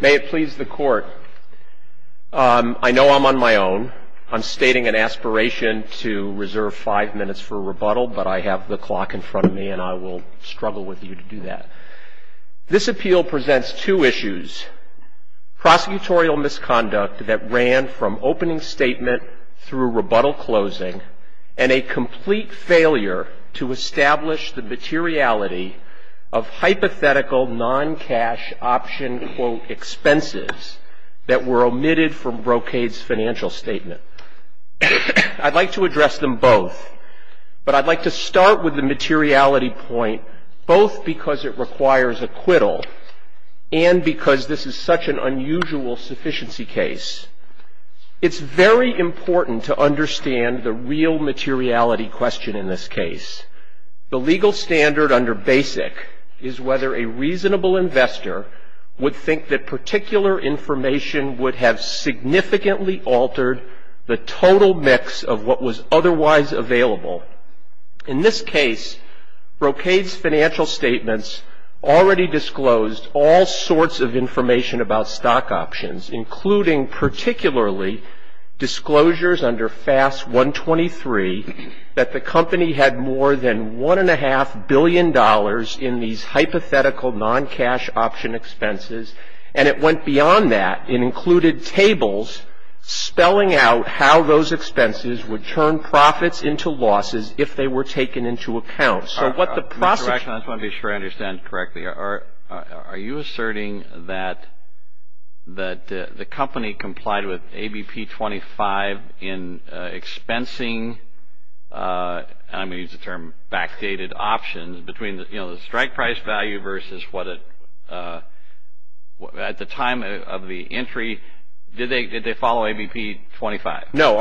May it please the court. I know I'm on my own. I'm stating an aspiration to reserve five minutes for rebuttal, but I have the clock in front of me and I will struggle with you to do that. This appeal presents two issues. Prosecutorial misconduct that ran from opening statement through rebuttal closing, and a complete failure to establish the materiality of hypothetical non-cash option quote expenses that were omitted from Brocade's financial statement. I'd like to address them both, but I'd like to start with the materiality point both because it requires acquittal and because this is such an unusual sufficiency case. It's very important to understand the real materiality question in this case. The legal standard under BASIC is whether a reasonable investor would think that particular information would have significantly altered the total mix of what was otherwise available. In this case, Brocade's financial statements already disclosed all sorts of information about stock options, including particularly disclosures under FAS 123 that the company had more than $1.5 billion in these hypothetical non-cash option expenses, and it went beyond that and included tables spelling out how those expenses would turn profits into losses if they were taken into account. So what the prosecution... Mr. Reichen, I just want to be sure I understand correctly. Are you asserting that the company complied with ABP 25 in expensing, and I'm going to use the term backdated, between the strike price value versus at the time of the entry, did they follow ABP 25? No.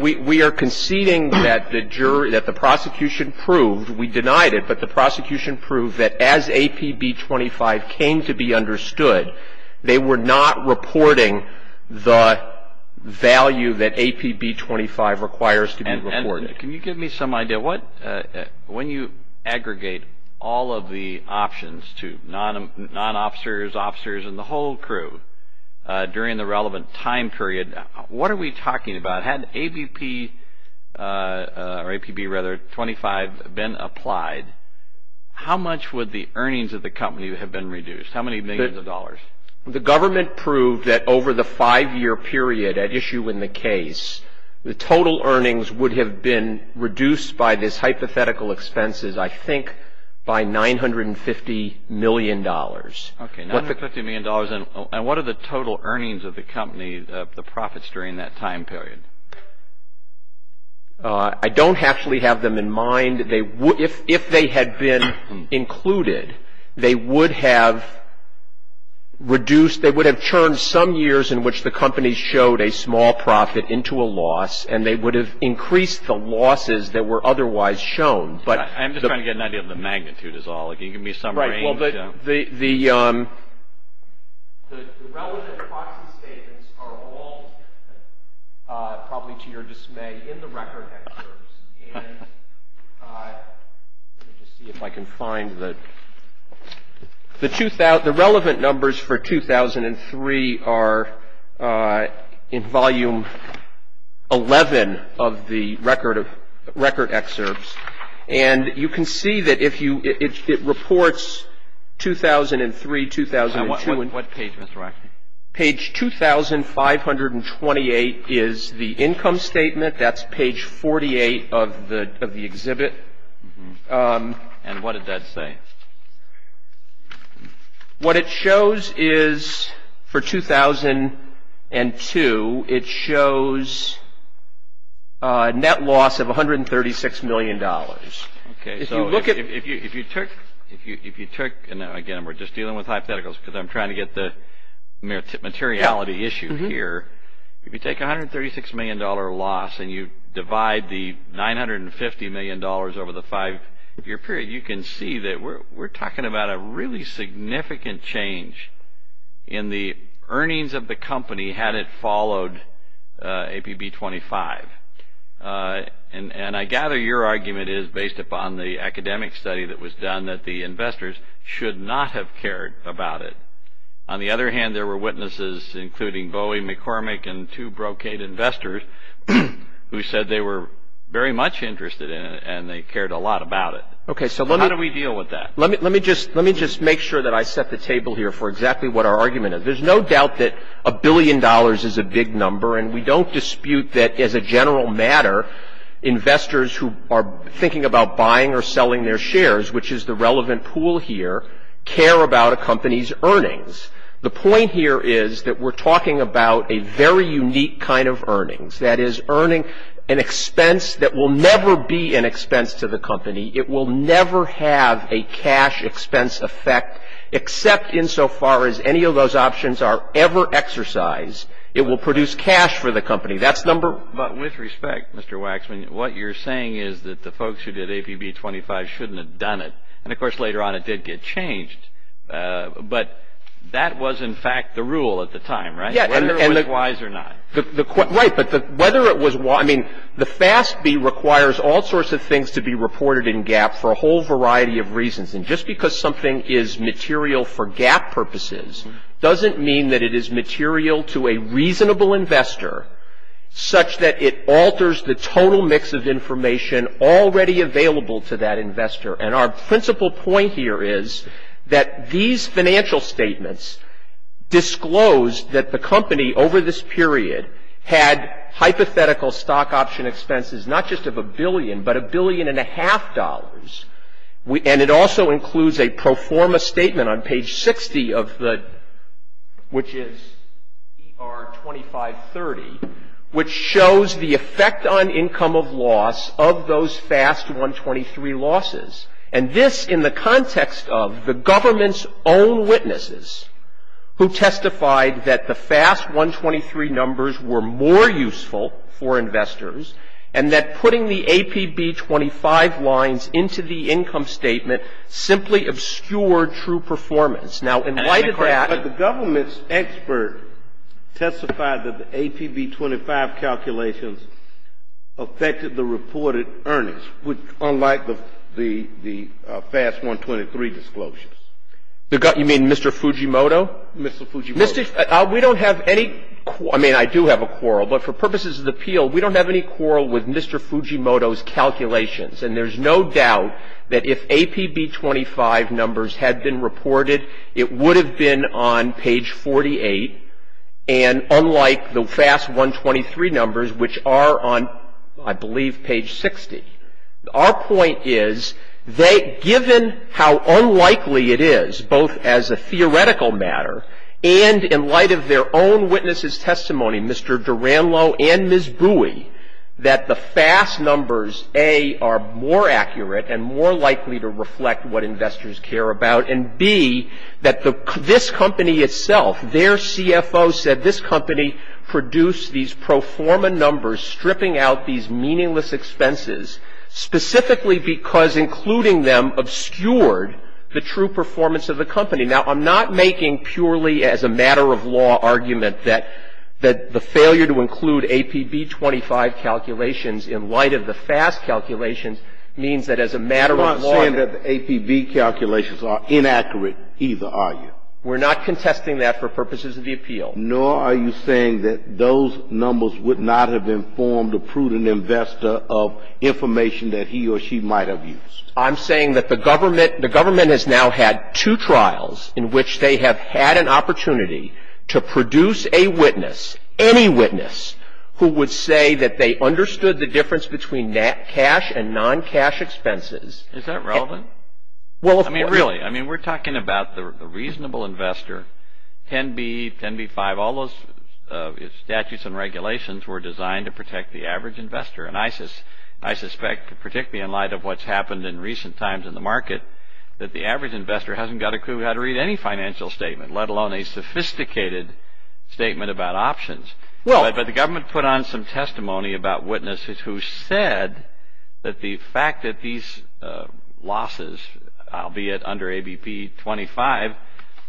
We are conceding that the prosecution proved, we denied it, but the prosecution proved that as APB 25 came to be understood, they were not reporting the value that APB 25 requires to be reported. And can you give me some idea, when you aggregate all of the options to non-officers, officers, and the whole crew during the relevant time period, what are we talking about? Had ABP, or APB rather, 25 been applied, how much would the earnings of the company have been reduced? How many millions of dollars? The government proved that over the five-year period at issue in the case, the total earnings would have been reduced by this hypothetical expenses, I think, by $950 million. Okay, $950 million. And what are the total earnings of the company, the profits during that time period? I don't actually have them in mind. If they had been included, they would have reduced, they would have turned some years in which the company showed a small profit into a loss, and they would have increased the losses that were otherwise shown. I'm just trying to get an idea of the magnitude is all. Can you give me some range? The relevant proxy statements are all, probably to your dismay, in the record excerpts. And let me just see if I can find the, the relevant numbers for 2003 are in volume 11 of the record excerpts. And you can see that if you, it reports 2003, 2002. What page, Mr. Rackney? Page 2528 is the income statement. That's page 48 of the exhibit. And what did that say? What it shows is for 2002, it shows a net loss of $136 million. Okay, so if you look at, if you took, if you took, and again, we're just dealing with hypotheticals because I'm trying to get the materiality issue here. If you take $136 million loss and you divide the $950 million over the five-year period, you can see that we're talking about a really significant change in the earnings of the company had it followed APB 25. And I gather your argument is based upon the academic study that was done that the investors should not have cared about it. On the other hand, there were witnesses, including Bowie McCormick and two Brocade investors, who said they were very much interested in it and they cared a lot about it. Okay, so let me. How do we deal with that? Let me just make sure that I set the table here for exactly what our argument is. There's no doubt that a billion dollars is a big number, and we don't dispute that as a general matter, investors who are thinking about buying or selling their shares, which is the relevant pool here, care about a company's earnings. The point here is that we're talking about a very unique kind of earnings, that is earning an expense that will never be an expense to the company. It will never have a cash expense effect, except insofar as any of those options are ever exercised. It will produce cash for the company. That's number one. But with respect, Mr. Waxman, what you're saying is that the folks who did APB 25 shouldn't have done it. And, of course, later on it did get changed. But that was, in fact, the rule at the time, right? Yeah. Whether it was wise or not. Right, but whether it was wise. I mean, the FASB requires all sorts of things to be reported in GAAP for a whole variety of reasons. And just because something is material for GAAP purposes doesn't mean that it is material to a reasonable investor such that it alters the total mix of information already available to that investor. And our principal point here is that these financial statements disclose that the company, over this period, had hypothetical stock option expenses not just of a billion, but a billion and a half dollars. And it also includes a pro forma statement on page 60 of the, which is ER 2530, which shows the effect on income of loss of those FASB 123 losses. And this in the context of the government's own witnesses who testified that the FASB 123 numbers were more useful for investors and that putting the APB 25 lines into the income statement simply obscured true performance. Now, in light of that. But the government's expert testified that the APB 25 calculations affected the reported earnings, which unlike the FASB 123 disclosures. You mean Mr. Fujimoto? Mr. Fujimoto. We don't have any, I mean I do have a quarrel, but for purposes of the appeal, we don't have any quarrel with Mr. Fujimoto's calculations. And there's no doubt that if APB 25 numbers had been reported, it would have been on page 48. And unlike the FASB 123 numbers, which are on, I believe, page 60. Our point is, given how unlikely it is, both as a theoretical matter and in light of their own witnesses' testimony, Mr. Duranlo and Ms. Bui, that the FAS numbers, A, are more accurate and more likely to reflect what investors care about, and B, that this company itself, their CFO said, that this company produced these pro forma numbers stripping out these meaningless expenses, specifically because including them obscured the true performance of the company. Now, I'm not making purely as a matter of law argument that the failure to include APB 25 calculations in light of the FASB calculations means that as a matter of law. You're not saying that the APB calculations are inaccurate either, are you? We're not contesting that for purposes of the appeal. Nor are you saying that those numbers would not have informed a prudent investor of information that he or she might have used. I'm saying that the government has now had two trials in which they have had an opportunity to produce a witness, any witness, who would say that they understood the difference between cash and non-cash expenses. Is that relevant? I mean, really. I mean, we're talking about the reasonable investor. 10B, 10B-5, all those statutes and regulations were designed to protect the average investor. And I suspect, particularly in light of what's happened in recent times in the market, that the average investor hasn't got a clue how to read any financial statement, let alone a sophisticated statement about options. But the government put on some testimony about witnesses who said that the fact that these losses, albeit under ABP-25,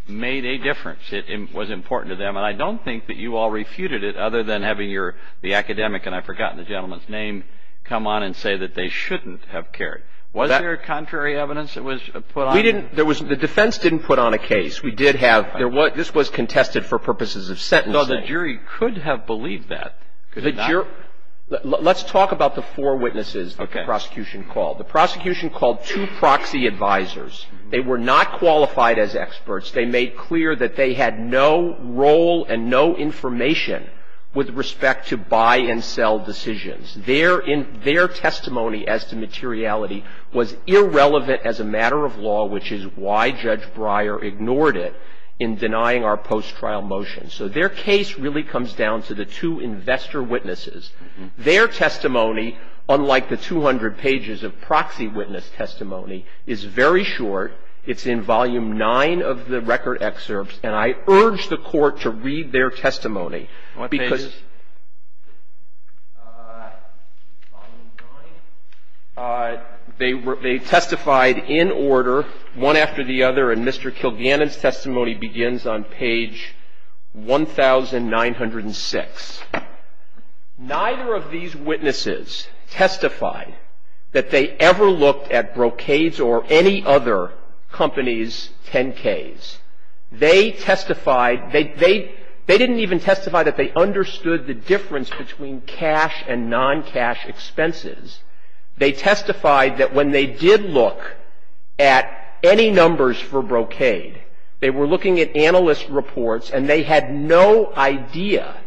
made a difference. It was important to them. And I don't think that you all refuted it other than having the academic, and I've forgotten the gentleman's name, come on and say that they shouldn't have cared. Was there contrary evidence that was put on? We didn't. The defense didn't put on a case. We did have. This was contested for purposes of sentencing. No, the jury could have believed that. Let's talk about the four witnesses the prosecution called. The prosecution called two proxy advisors. They were not qualified as experts. They made clear that they had no role and no information with respect to buy and sell decisions. Their testimony as to materiality was irrelevant as a matter of law, which is why Judge Breyer ignored it in denying our post-trial motion. So their case really comes down to the two investor witnesses. Their testimony, unlike the 200 pages of proxy witness testimony, is very short. It's in Volume 9 of the record excerpts. And I urge the Court to read their testimony. What page? Volume 9. They testified in order, one after the other. And Mr. Kilgannon's testimony begins on page 1906. Neither of these witnesses testified that they ever looked at Brocade's or any other company's 10-Ks. They testified, they didn't even testify that they understood the difference between cash and non-cash expenses. They testified that when they did look at any numbers for Brocade, they were looking at analyst reports and they had no idea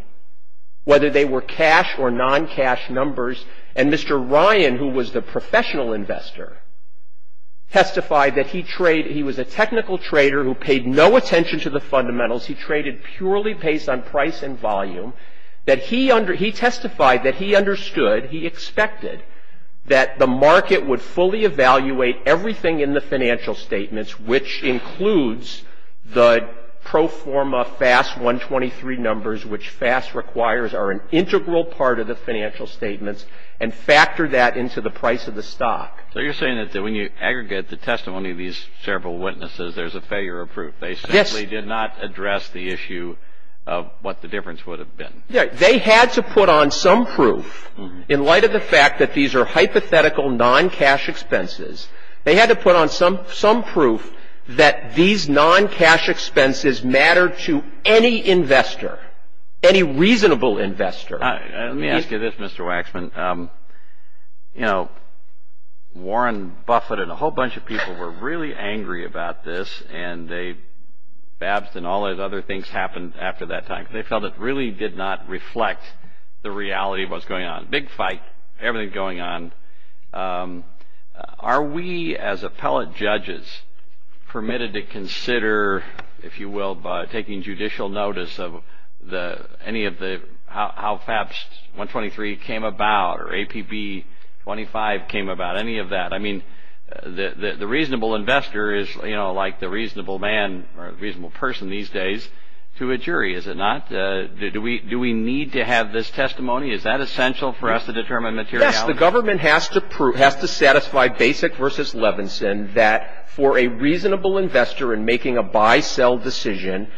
whether they were cash or non-cash numbers. And Mr. Ryan, who was the professional investor, testified that he was a technical trader who paid no attention to the fundamentals. He traded purely based on price and volume. He testified that he understood, he expected, that the market would fully evaluate everything in the financial statements, which includes the pro forma FAS 123 numbers, which FAS requires are an integral part of the financial statements, and factor that into the price of the stock. So you're saying that when you aggregate the testimony of these several witnesses, there's a failure of proof. Yes. They probably did not address the issue of what the difference would have been. They had to put on some proof in light of the fact that these are hypothetical non-cash expenses. They had to put on some proof that these non-cash expenses mattered to any investor, any reasonable investor. Let me ask you this, Mr. Waxman. You know, Warren Buffett and a whole bunch of people were really angry about this and Babst and all those other things happened after that time. They felt it really did not reflect the reality of what's going on. Big fight, everything's going on. Are we, as appellate judges, permitted to consider, if you will, by taking judicial notice of how FAS 123 came about or APB 25 came about, any of that? I mean, the reasonable investor is, you know, like the reasonable man or reasonable person these days to a jury, is it not? Do we need to have this testimony? Is that essential for us to determine materiality? Yes. The government has to satisfy Basic versus Levinson that for a reasonable investor in making a buy-sell decision,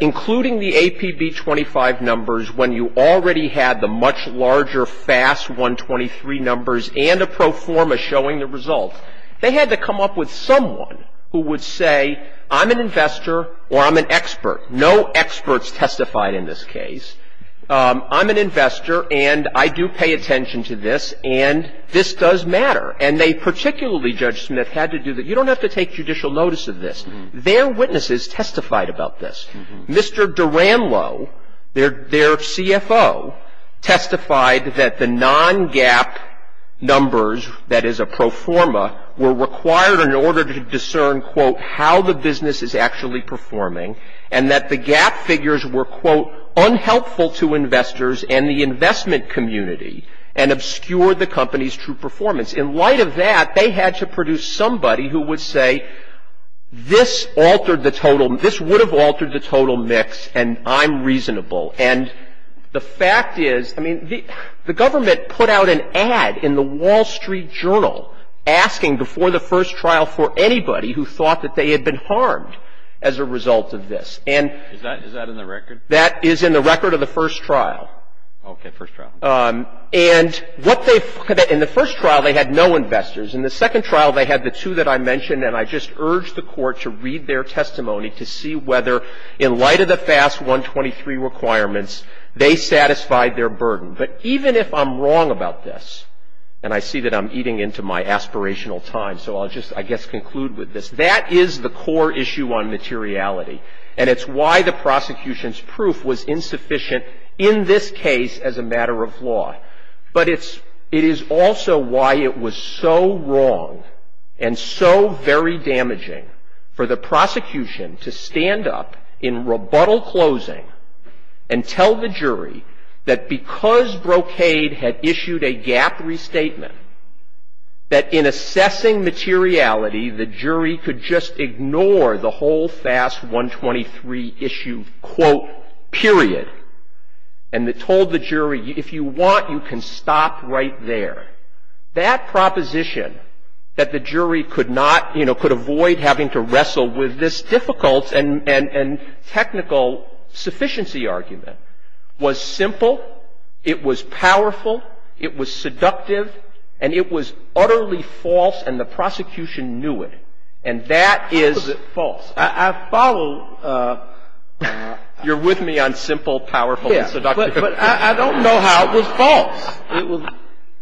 including the APB 25 numbers when you already had the much larger FAS 123 numbers and a pro forma showing the results, they had to come up with someone who would say, I'm an investor or I'm an expert. No experts testified in this case. I'm an investor and I do pay attention to this and this does matter. And they particularly, Judge Smith, had to do that. You don't have to take judicial notice of this. Their witnesses testified about this. Mr. Durandlo, their CFO, testified that the non-GAAP numbers, that is a pro forma, were required in order to discern, quote, how the business is actually performing and that the GAAP figures were, quote, unhelpful to investors and the investment community and obscured the company's true performance. In light of that, they had to produce somebody who would say, this altered the total, this would have altered the total mix and I'm reasonable. And the fact is, I mean, the government put out an ad in the Wall Street Journal asking before the first trial for anybody who thought that they had been harmed as a result of this. And that is in the record of the first trial. And what they, in the first trial they had no investors. In the second trial they had the two that I mentioned and I just urge the Court to read their testimony to see whether, in light of the FAS 123 requirements, they satisfied their burden. But even if I'm wrong about this, and I see that I'm eating into my aspirational time, so I'll just, I guess, conclude with this, that is the core issue on materiality and it's why the prosecution's proof was insufficient in this case as a matter of law. But it's, it is also why it was so wrong and so very damaging for the prosecution to stand up in rebuttal closing and tell the jury that because Brocade had issued a gap restatement, that in assessing materiality, the jury could just ignore the whole FAS 123 issue, quote, period. And it told the jury, if you want, you can stop right there. That proposition, that the jury could not, you know, could avoid having to wrestle with this difficult and technical sufficiency argument, was simple, it was powerful, it was seductive, and it was utterly false and the prosecution knew it. And that is. I follow. You're with me on simple, powerful, and seductive. But I don't know how it was false.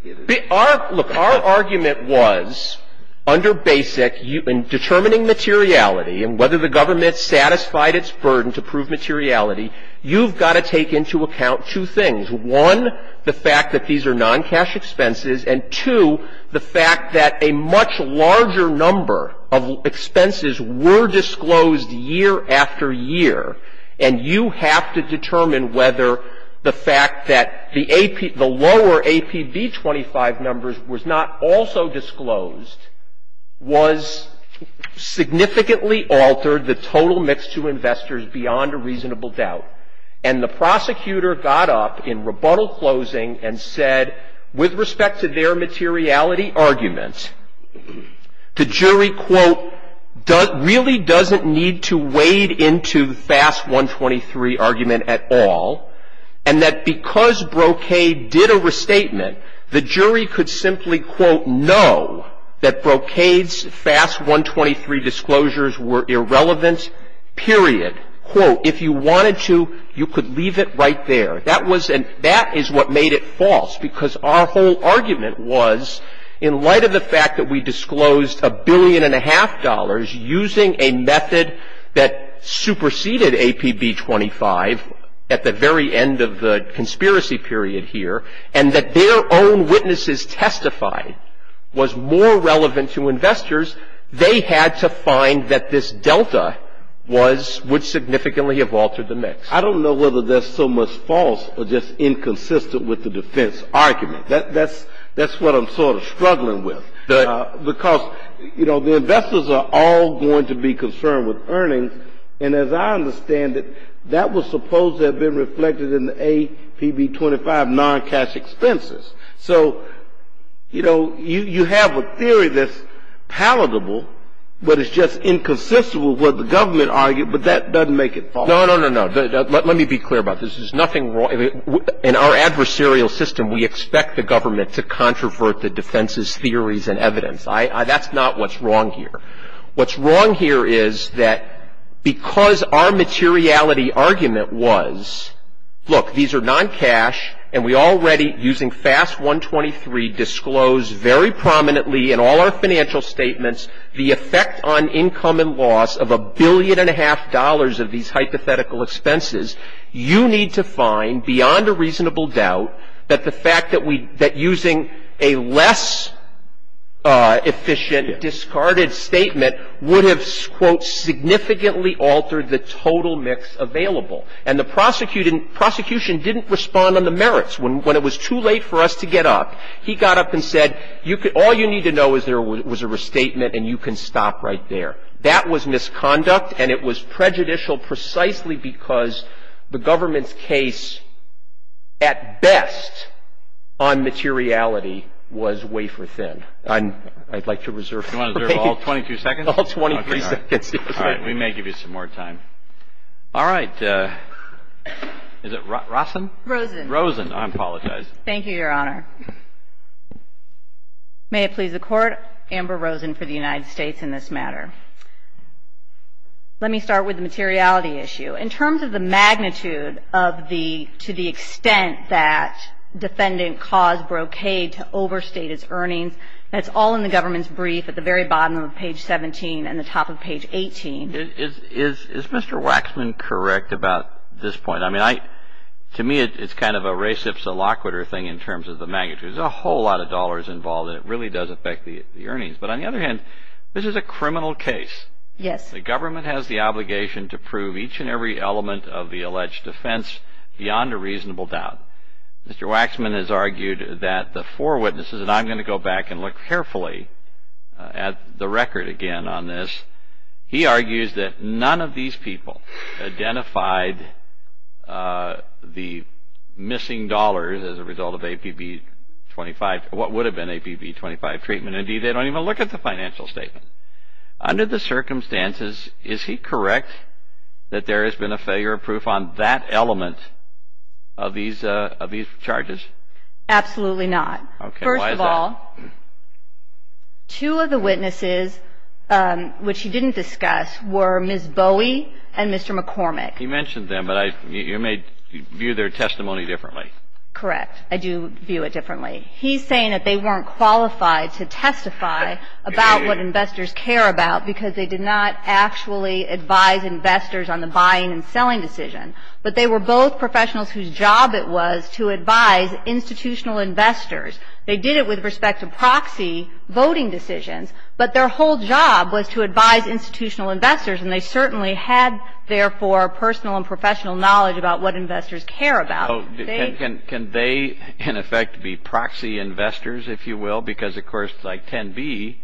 It was. Our, look, our argument was under BASIC, in determining materiality and whether the government satisfied its burden to prove materiality, you've got to take into account two things. One, the fact that these are non-cash expenses, and two, the fact that a much larger number of expenses were disclosed year after year. And you have to determine whether the fact that the AP, the lower APB 25 numbers was not also disclosed, was significantly altered the total mix to investors beyond a reasonable doubt. And the prosecutor got up in rebuttal closing and said, with respect to their materiality argument, the jury, quote, really doesn't need to wade into FAS 123 argument at all, and that because Brocade did a restatement, the jury could simply, quote, know that Brocade's FAS 123 disclosures were irrelevant, period. Quote, if you wanted to, you could leave it right there. That was, and that is what made it false, because our whole argument was, in light of the fact that we disclosed a billion and a half dollars using a method that superseded APB 25 at the very end of the conspiracy period here, and that their own witnesses testified was more relevant to investors, they had to find that this delta was, would significantly have altered the mix. I don't know whether that's so much false or just inconsistent with the defense argument. That's what I'm sort of struggling with. Because, you know, the investors are all going to be concerned with earnings, and as I understand it, that was supposed to have been reflected in the APB 25 non-cash expenses. So, you know, you have a theory that's palatable, but it's just inconsistent with what the government argued, but that doesn't make it false. No, no, no, no. Let me be clear about this. There's nothing wrong. In our adversarial system, we expect the government to controvert the defense's theories and evidence. That's not what's wrong here. What's wrong here is that because our materiality argument was, look, these are non-cash, and we already, using FAS 123, disclosed very prominently in all our financial statements the effect on income and loss of a billion and a half dollars of these hypothetical expenses. You need to find, beyond a reasonable doubt, that the fact that using a less efficient, discarded statement would have, quote, significantly altered the total mix available. And the prosecution didn't respond on the merits. When it was too late for us to get up, he got up and said, all you need to know is there was a restatement, and you can stop right there. That was misconduct, and it was prejudicial precisely because the government's case, at best, on materiality was wafer-thin. I'd like to reserve all 22 seconds. All 23 seconds. All right. We may give you some more time. All right. Is it Rosen? Rosen. Rosen. I apologize. Thank you, Your Honor. May it please the Court, Amber Rosen for the United States in this matter. Let me start with the materiality issue. In terms of the magnitude of the, to the extent that defendant caused brocade to overstate his earnings, that's all in the government's brief at the very bottom of page 17 and the top of page 18. Is Mr. Waxman correct about this point? I mean, to me, it's kind of a race of soloquitur thing in terms of the magnitude. There's a whole lot of dollars involved, and it really does affect the earnings. But on the other hand, this is a criminal case. Yes. The government has the obligation to prove each and every element of the alleged offense beyond a reasonable doubt. Mr. Waxman has argued that the four witnesses, and I'm going to go back and look carefully at the record again on this. He argues that none of these people identified the missing dollars as a result of APB 25, what would have been APB 25 treatment. Indeed, they don't even look at the financial statement. Under the circumstances, is he correct that there has been a failure of proof on that element of these charges? Absolutely not. Okay. Why is that? Two of the witnesses, which he didn't discuss, were Ms. Bowie and Mr. McCormick. He mentioned them, but you may view their testimony differently. Correct. I do view it differently. He's saying that they weren't qualified to testify about what investors care about because they did not actually advise investors on the buying and selling decision. But they were both professionals whose job it was to advise institutional investors. They did it with respect to proxy voting decisions, but their whole job was to advise institutional investors, and they certainly had, therefore, personal and professional knowledge about what investors care about. Can they, in effect, be proxy investors, if you will? Because, of course, like 10B,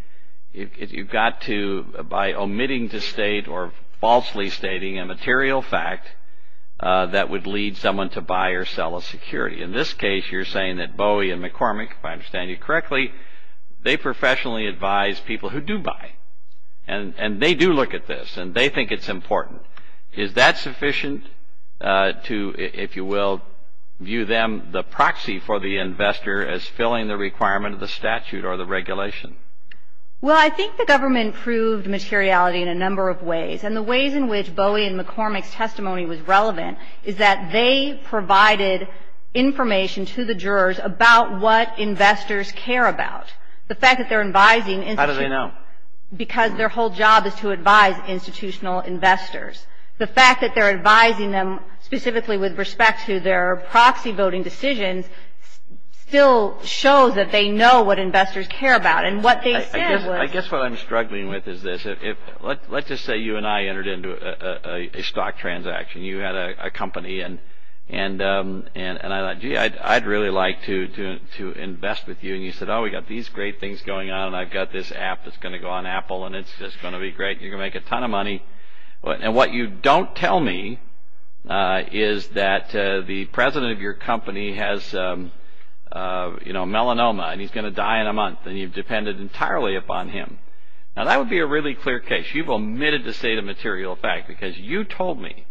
you've got to, by omitting to state or falsely stating a material fact that would lead someone to buy or sell a security. In this case, you're saying that Bowie and McCormick, if I understand you correctly, they professionally advise people who do buy, and they do look at this, and they think it's important. Is that sufficient to, if you will, view them the proxy for the investor as filling the requirement of the statute or the regulation? Well, I think the government proved materiality in a number of ways, and the ways in which Bowie and McCormick's testimony was relevant is that they provided information to the jurors about what investors care about. The fact that they're advising... How do they know? Because their whole job is to advise institutional investors. The fact that they're advising them specifically with respect to their proxy voting decisions still shows that they know what investors care about, and what they said was... I guess what I'm struggling with is this. Let's just say you and I entered into a stock transaction. You had a company, and I thought, gee, I'd really like to invest with you. And you said, oh, we've got these great things going on, and I've got this app that's going to go on Apple, and it's just going to be great. You're going to make a ton of money. And what you don't tell me is that the president of your company has melanoma, and he's going to die in a month, and you've depended entirely upon him. Now, that would be a really clear case. You've omitted the state of material fact, because you told me,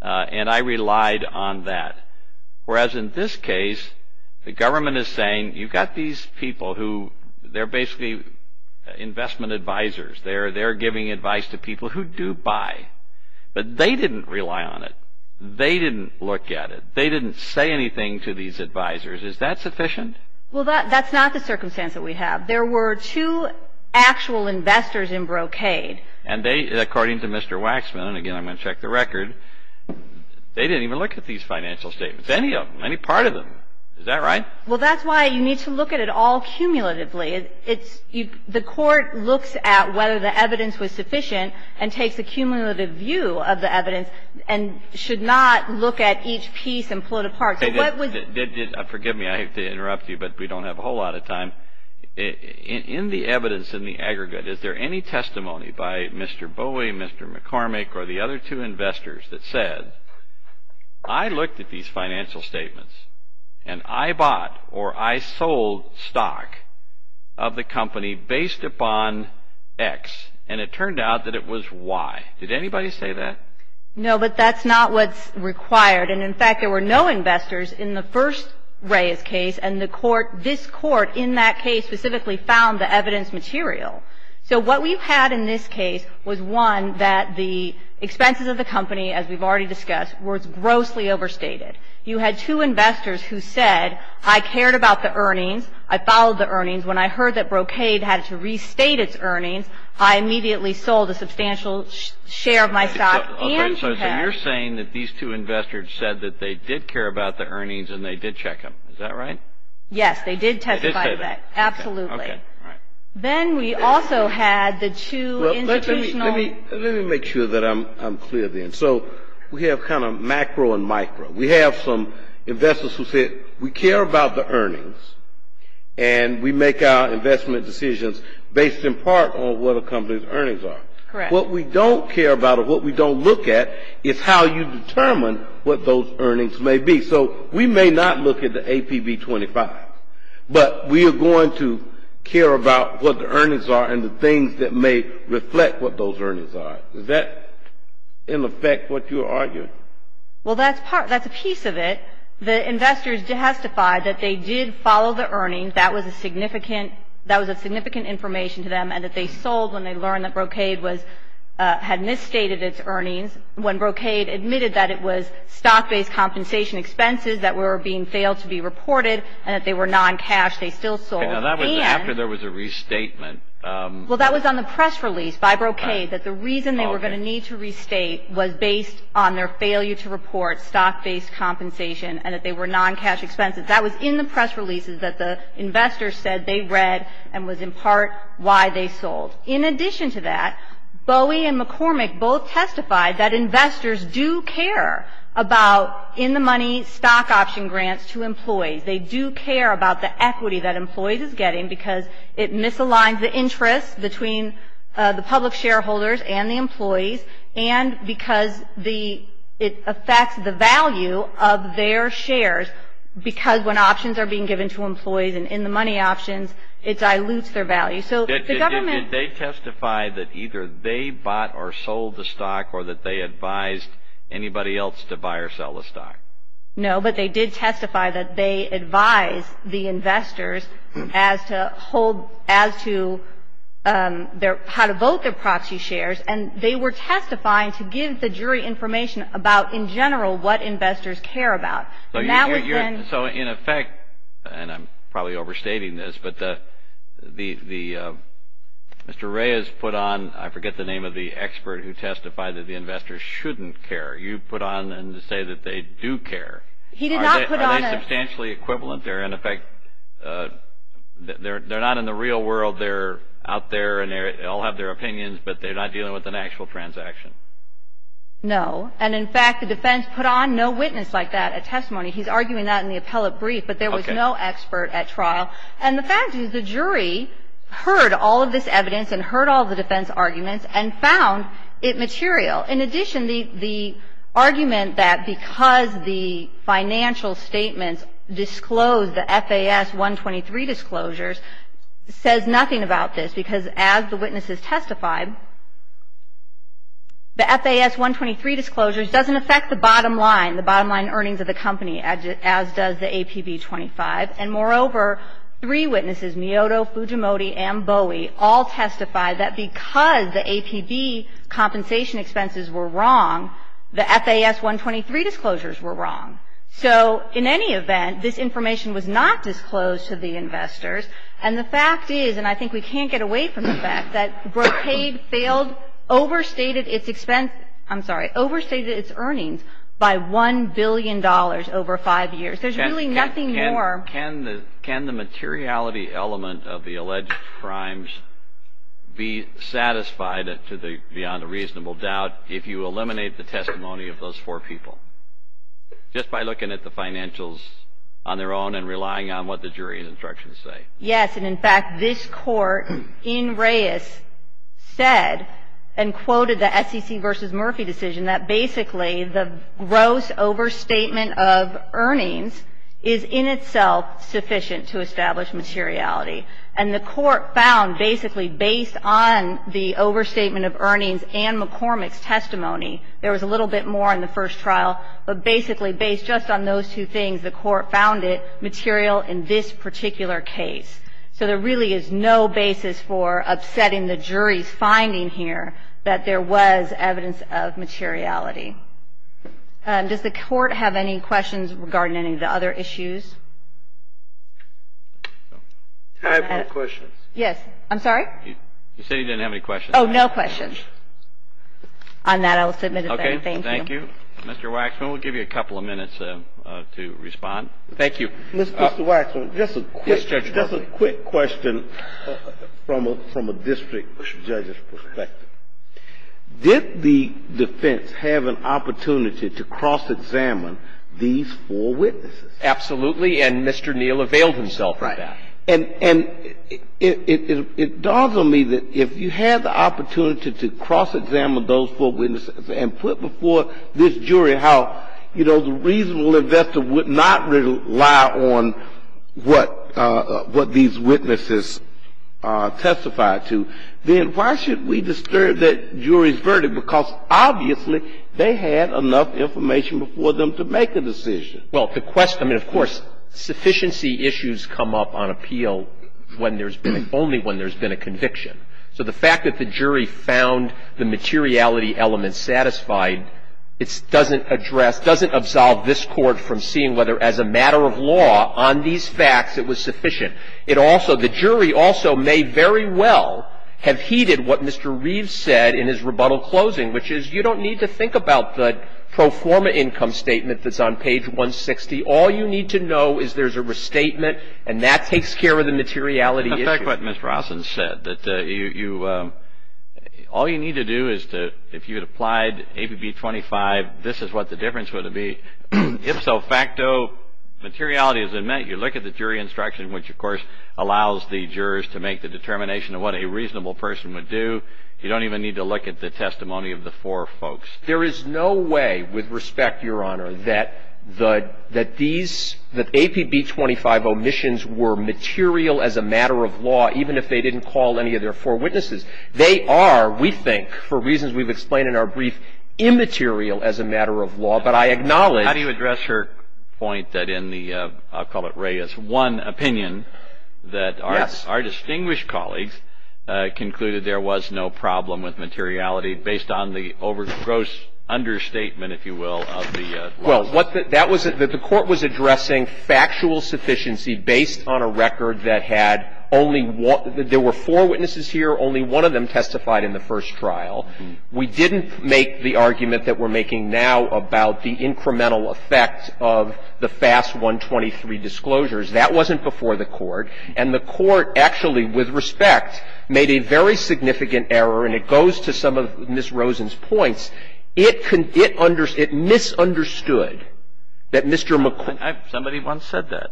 and I relied on that. Whereas in this case, the government is saying, you've got these people who... They're basically investment advisors. They're giving advice to people who do buy. But they didn't rely on it. They didn't look at it. They didn't say anything to these advisors. Is that sufficient? Well, that's not the circumstance that we have. There were two actual investors in Brocade. And they, according to Mr. Waxman, and again, I'm going to check the record, they didn't even look at these financial statements, any of them, any part of them. Is that right? Well, that's why you need to look at it all cumulatively. The court looks at whether the evidence was sufficient and takes a cumulative view of the evidence and should not look at each piece and pull it apart. Forgive me, I hate to interrupt you, but we don't have a whole lot of time. In the evidence in the aggregate, is there any testimony by Mr. Bowie, Mr. McCormick, or the other two investors that said, I looked at these financial statements and I bought or I sold stock of the company based upon X. And it turned out that it was Y. Did anybody say that? No, but that's not what's required. And, in fact, there were no investors in the first Reyes case, and this court in that case specifically found the evidence material. So what we've had in this case was, one, that the expenses of the company, as we've already discussed, were grossly overstated. You had two investors who said, I cared about the earnings, I followed the earnings. When I heard that Brocade had to restate its earnings, I immediately sold a substantial share of my stock. So you're saying that these two investors said that they did care about the earnings and they did check them, is that right? Yes, they did testify to that, absolutely. Then we also had the two institutional. Let me make sure that I'm clear then. So we have kind of macro and micro. We have some investors who said, we care about the earnings and we make our investment decisions based in part on what a company's earnings are. Correct. So what we don't care about or what we don't look at is how you determine what those earnings may be. So we may not look at the APB 25, but we are going to care about what the earnings are and the things that may reflect what those earnings are. Is that, in effect, what you're arguing? Well, that's a piece of it. The investors testified that they did follow the earnings. That was a significant information to them and that they sold when they learned that Brocade had misstated its earnings. When Brocade admitted that it was stock-based compensation expenses that were being failed to be reported and that they were non-cash, they still sold. After there was a restatement. Well, that was on the press release by Brocade, that the reason they were going to need to restate was based on their failure to report stock-based compensation and that they were non-cash expenses. That was in the press releases that the investors said they read and was, in part, why they sold. In addition to that, Bowie and McCormick both testified that investors do care about in-the-money stock option grants to employees. They do care about the equity that employees is getting because it misaligns the interest between the public shareholders and the employees and because it affects the value of their shares because when options are being given to employees in-the-money options, it dilutes their value. Did they testify that either they bought or sold the stock or that they advised anybody else to buy or sell the stock? No, but they did testify that they advised the investors as to how to vote their proxy shares and they were testifying to give the jury information about, in general, what investors care about. So, in effect, and I'm probably overstating this, but Mr. Reyes put on, I forget the name of the expert who testified that the investors shouldn't care. You put on to say that they do care. Are they substantially equivalent there? In effect, they're not in the real world. They're out there and they all have their opinions, but they're not dealing with an actual transaction. No, and, in fact, the defense put on no witness like that at testimony. He's arguing that in the appellate brief, but there was no expert at trial. And the fact is the jury heard all of this evidence and heard all of the defense arguments and found it material. In addition, the argument that because the financial statements disclose the FAS 123 disclosures says nothing about this because, as the witnesses testified, the FAS 123 disclosures doesn't affect the bottom line, the bottom line earnings of the company, as does the APB 25. And, moreover, three witnesses, Miyoto, Fujimori, and Bowie, all testified that because the APB compensation expenses were wrong, the FAS 123 disclosures were wrong. So, in any event, this information was not disclosed to the investors. And the fact is, and I think we can't get away from the fact, that Brocade failed, overstated its expense, I'm sorry, overstated its earnings by $1 billion over five years. There's really nothing more. Can the materiality element of the alleged crimes be satisfied beyond a reasonable doubt if you eliminate the testimony of those four people? Just by looking at the financials on their own and relying on what the jury's instructions say. Yes. And, in fact, this Court in Reyes said and quoted the SEC versus Murphy decision that basically the gross overstatement of earnings is in itself sufficient to establish materiality. And the Court found basically based on the overstatement of earnings and McCormick's testimony, there was a little bit more in the first trial. But basically based just on those two things, the Court found it material in this particular case. So there really is no basis for upsetting the jury's finding here that there was evidence of materiality. Does the Court have any questions regarding any of the other issues? I have no questions. Yes. I'm sorry? You said you didn't have any questions. Oh, no questions. On that, I will submit it there. Thank you. Okay. Thank you. Mr. Waxman, we'll give you a couple of minutes to respond. Thank you. Mr. Waxman, just a quick question from a district judge's perspective. Did the defense have an opportunity to cross-examine these four witnesses? Absolutely. And Mr. Neal availed himself of that. Right. And it dawns on me that if you had the opportunity to cross-examine those four witnesses and put before this jury how, you know, the reasonable investor would not rely on what these witnesses testified to, then why should we disturb that jury's verdict? Because obviously they had enough information before them to make a decision. Well, the question, I mean, of course, sufficiency issues come up on appeal when there's been, only when there's been a conviction. So the fact that the jury found the materiality element satisfied, it doesn't address, doesn't absolve this Court from seeing whether as a matter of law on these facts it was sufficient. It also, the jury also may very well have heeded what Mr. Reeves said in his rebuttal closing, which is you don't need to think about the pro forma income statement that's on page 160. All you need to know is there's a restatement, and that takes care of the materiality issue. And in fact, what Ms. Rossin said, that you, all you need to do is to, if you had applied ABB 25, this is what the difference would have been. Ifso, facto, materiality is met. You look at the jury instruction, which, of course, allows the jurors to make the determination of what a reasonable person would do. You don't even need to look at the testimony of the four folks. There is no way, with respect, Your Honor, that the, that these, that ABB 25 omissions were material as a matter of law, even if they didn't call any of their four witnesses. They are, we think, for reasons we've explained in our brief, immaterial as a matter of law. But I acknowledge. How do you address her point that in the, I'll call it Raya's one opinion. Yes. Our distinguished colleagues concluded there was no problem with materiality based on the over, gross understatement, if you will, of the. Well, what the, that was, the Court was addressing factual sufficiency based on a record that had only one, there were four witnesses here, only one of them testified in the first trial. We didn't make the argument that we're making now about the incremental effect of the FAS 123 disclosures. That wasn't before the Court. And the Court actually, with respect, made a very significant error. And it goes to some of Ms. Rosen's points. It could, it under, it misunderstood that Mr. McCormick. Somebody once said that.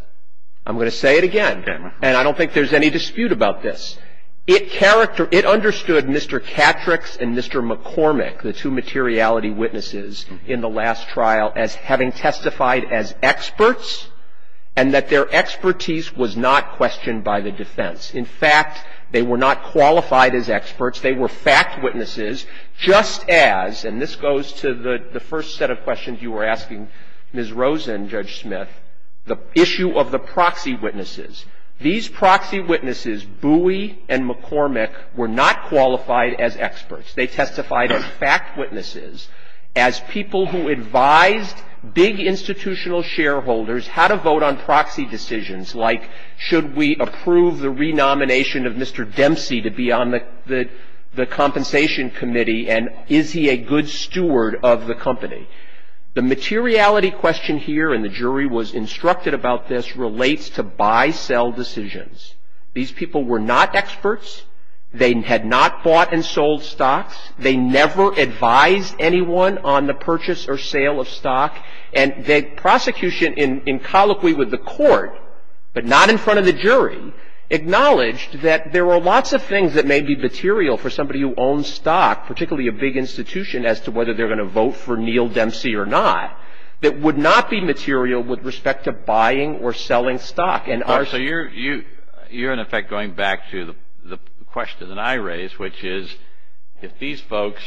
I'm going to say it again. Okay. And I don't think there's any dispute about this. It character, it understood Mr. Catrix and Mr. McCormick, the two materiality witnesses in the last trial, as having testified as experts and that their expertise was not questioned by the defense. In fact, they were not qualified as experts. They were fact witnesses, just as, and this goes to the, the first set of questions you were asking Ms. Rosen, Judge Smith, the issue of the proxy witnesses. These proxy witnesses, Bowie and McCormick, were not qualified as experts. They testified as fact witnesses, as people who advised big institutional shareholders how to vote on proxy decisions, like should we approve the renomination of Mr. Dempsey to be on the, the compensation committee, and is he a good steward of the company? The materiality question here, and the jury was instructed about this, relates to buy-sell decisions. These people were not experts. They had not bought and sold stocks. And the prosecution in, in colloquy with the court, but not in front of the jury, acknowledged that there were lots of things that may be material for somebody who owns stock, particularly a big institution, as to whether they're going to vote for Neal Dempsey or not, that would not be material with respect to buying or selling stock. And our, so you're, you, you're in effect going back to the, the question that I raised, which is, if these folks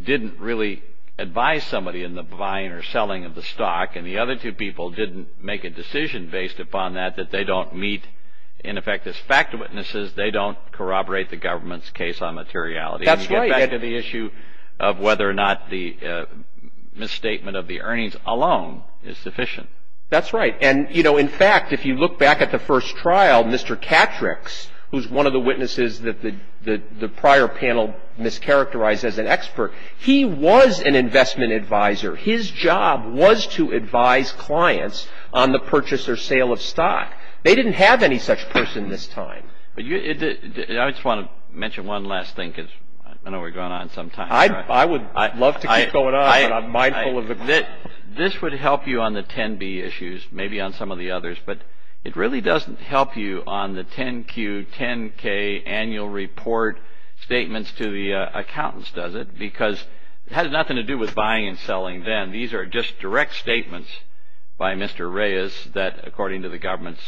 didn't really advise somebody in the buying or selling of the stock, and the other two people didn't make a decision based upon that, that they don't meet, in effect, as fact witnesses, they don't corroborate the government's case on materiality. That's right. And get back to the issue of whether or not the misstatement of the earnings alone is sufficient. That's right. And, you know, in fact, if you look back at the first trial, Mr. Catrix, who's one of the witnesses that the prior panel mischaracterized as an expert, he was an investment advisor. His job was to advise clients on the purchase or sale of stock. They didn't have any such person this time. I just want to mention one last thing, because I know we're going on some time. I would love to keep going on, but I'm mindful of the time. This would help you on the 10B issues, maybe on some of the others, but it really doesn't help you on the 10Q, 10K annual report statements to the accountants, does it? Because it had nothing to do with buying and selling then. These are just direct statements by Mr. Reyes that, according to the government's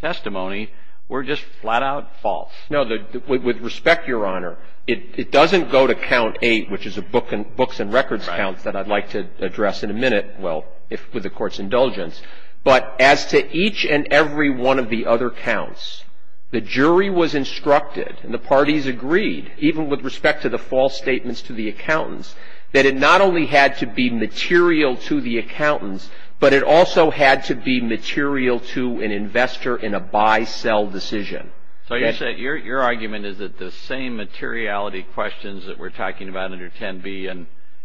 testimony, were just flat-out false. No, with respect, Your Honor, it doesn't go to count eight, which is a books and records count that I'd like to address in a minute, well, with the Court's indulgence. But as to each and every one of the other counts, the jury was instructed, and the parties agreed, even with respect to the false statements to the accountants, that it not only had to be material to the accountants, but it also had to be material to an investor in a buy-sell decision. So you're saying, your argument is that the same materiality questions that we're talking about under 10B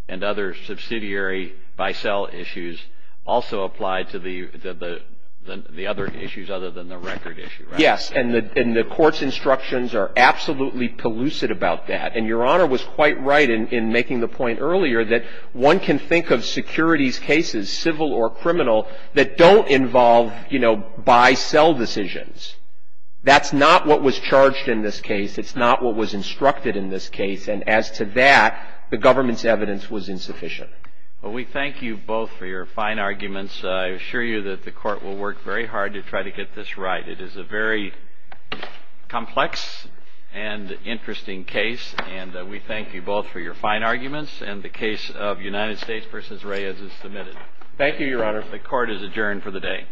and other subsidiary buy-sell issues also apply to the other issues other than the record issue, right? Yes. And the Court's instructions are absolutely pellucid about that. And Your Honor was quite right in making the point earlier that one can think of securities cases, civil or criminal, that don't involve, you know, buy-sell decisions. That's not what was charged in this case. It's not what was instructed in this case. And as to that, the government's evidence was insufficient. Well, we thank you both for your fine arguments. I assure you that the Court will work very hard to try to get this right. It is a very complex and interesting case. And we thank you both for your fine arguments and the case of United States v. Reyes is submitted. Thank you, Your Honor. The Court is adjourned for the day.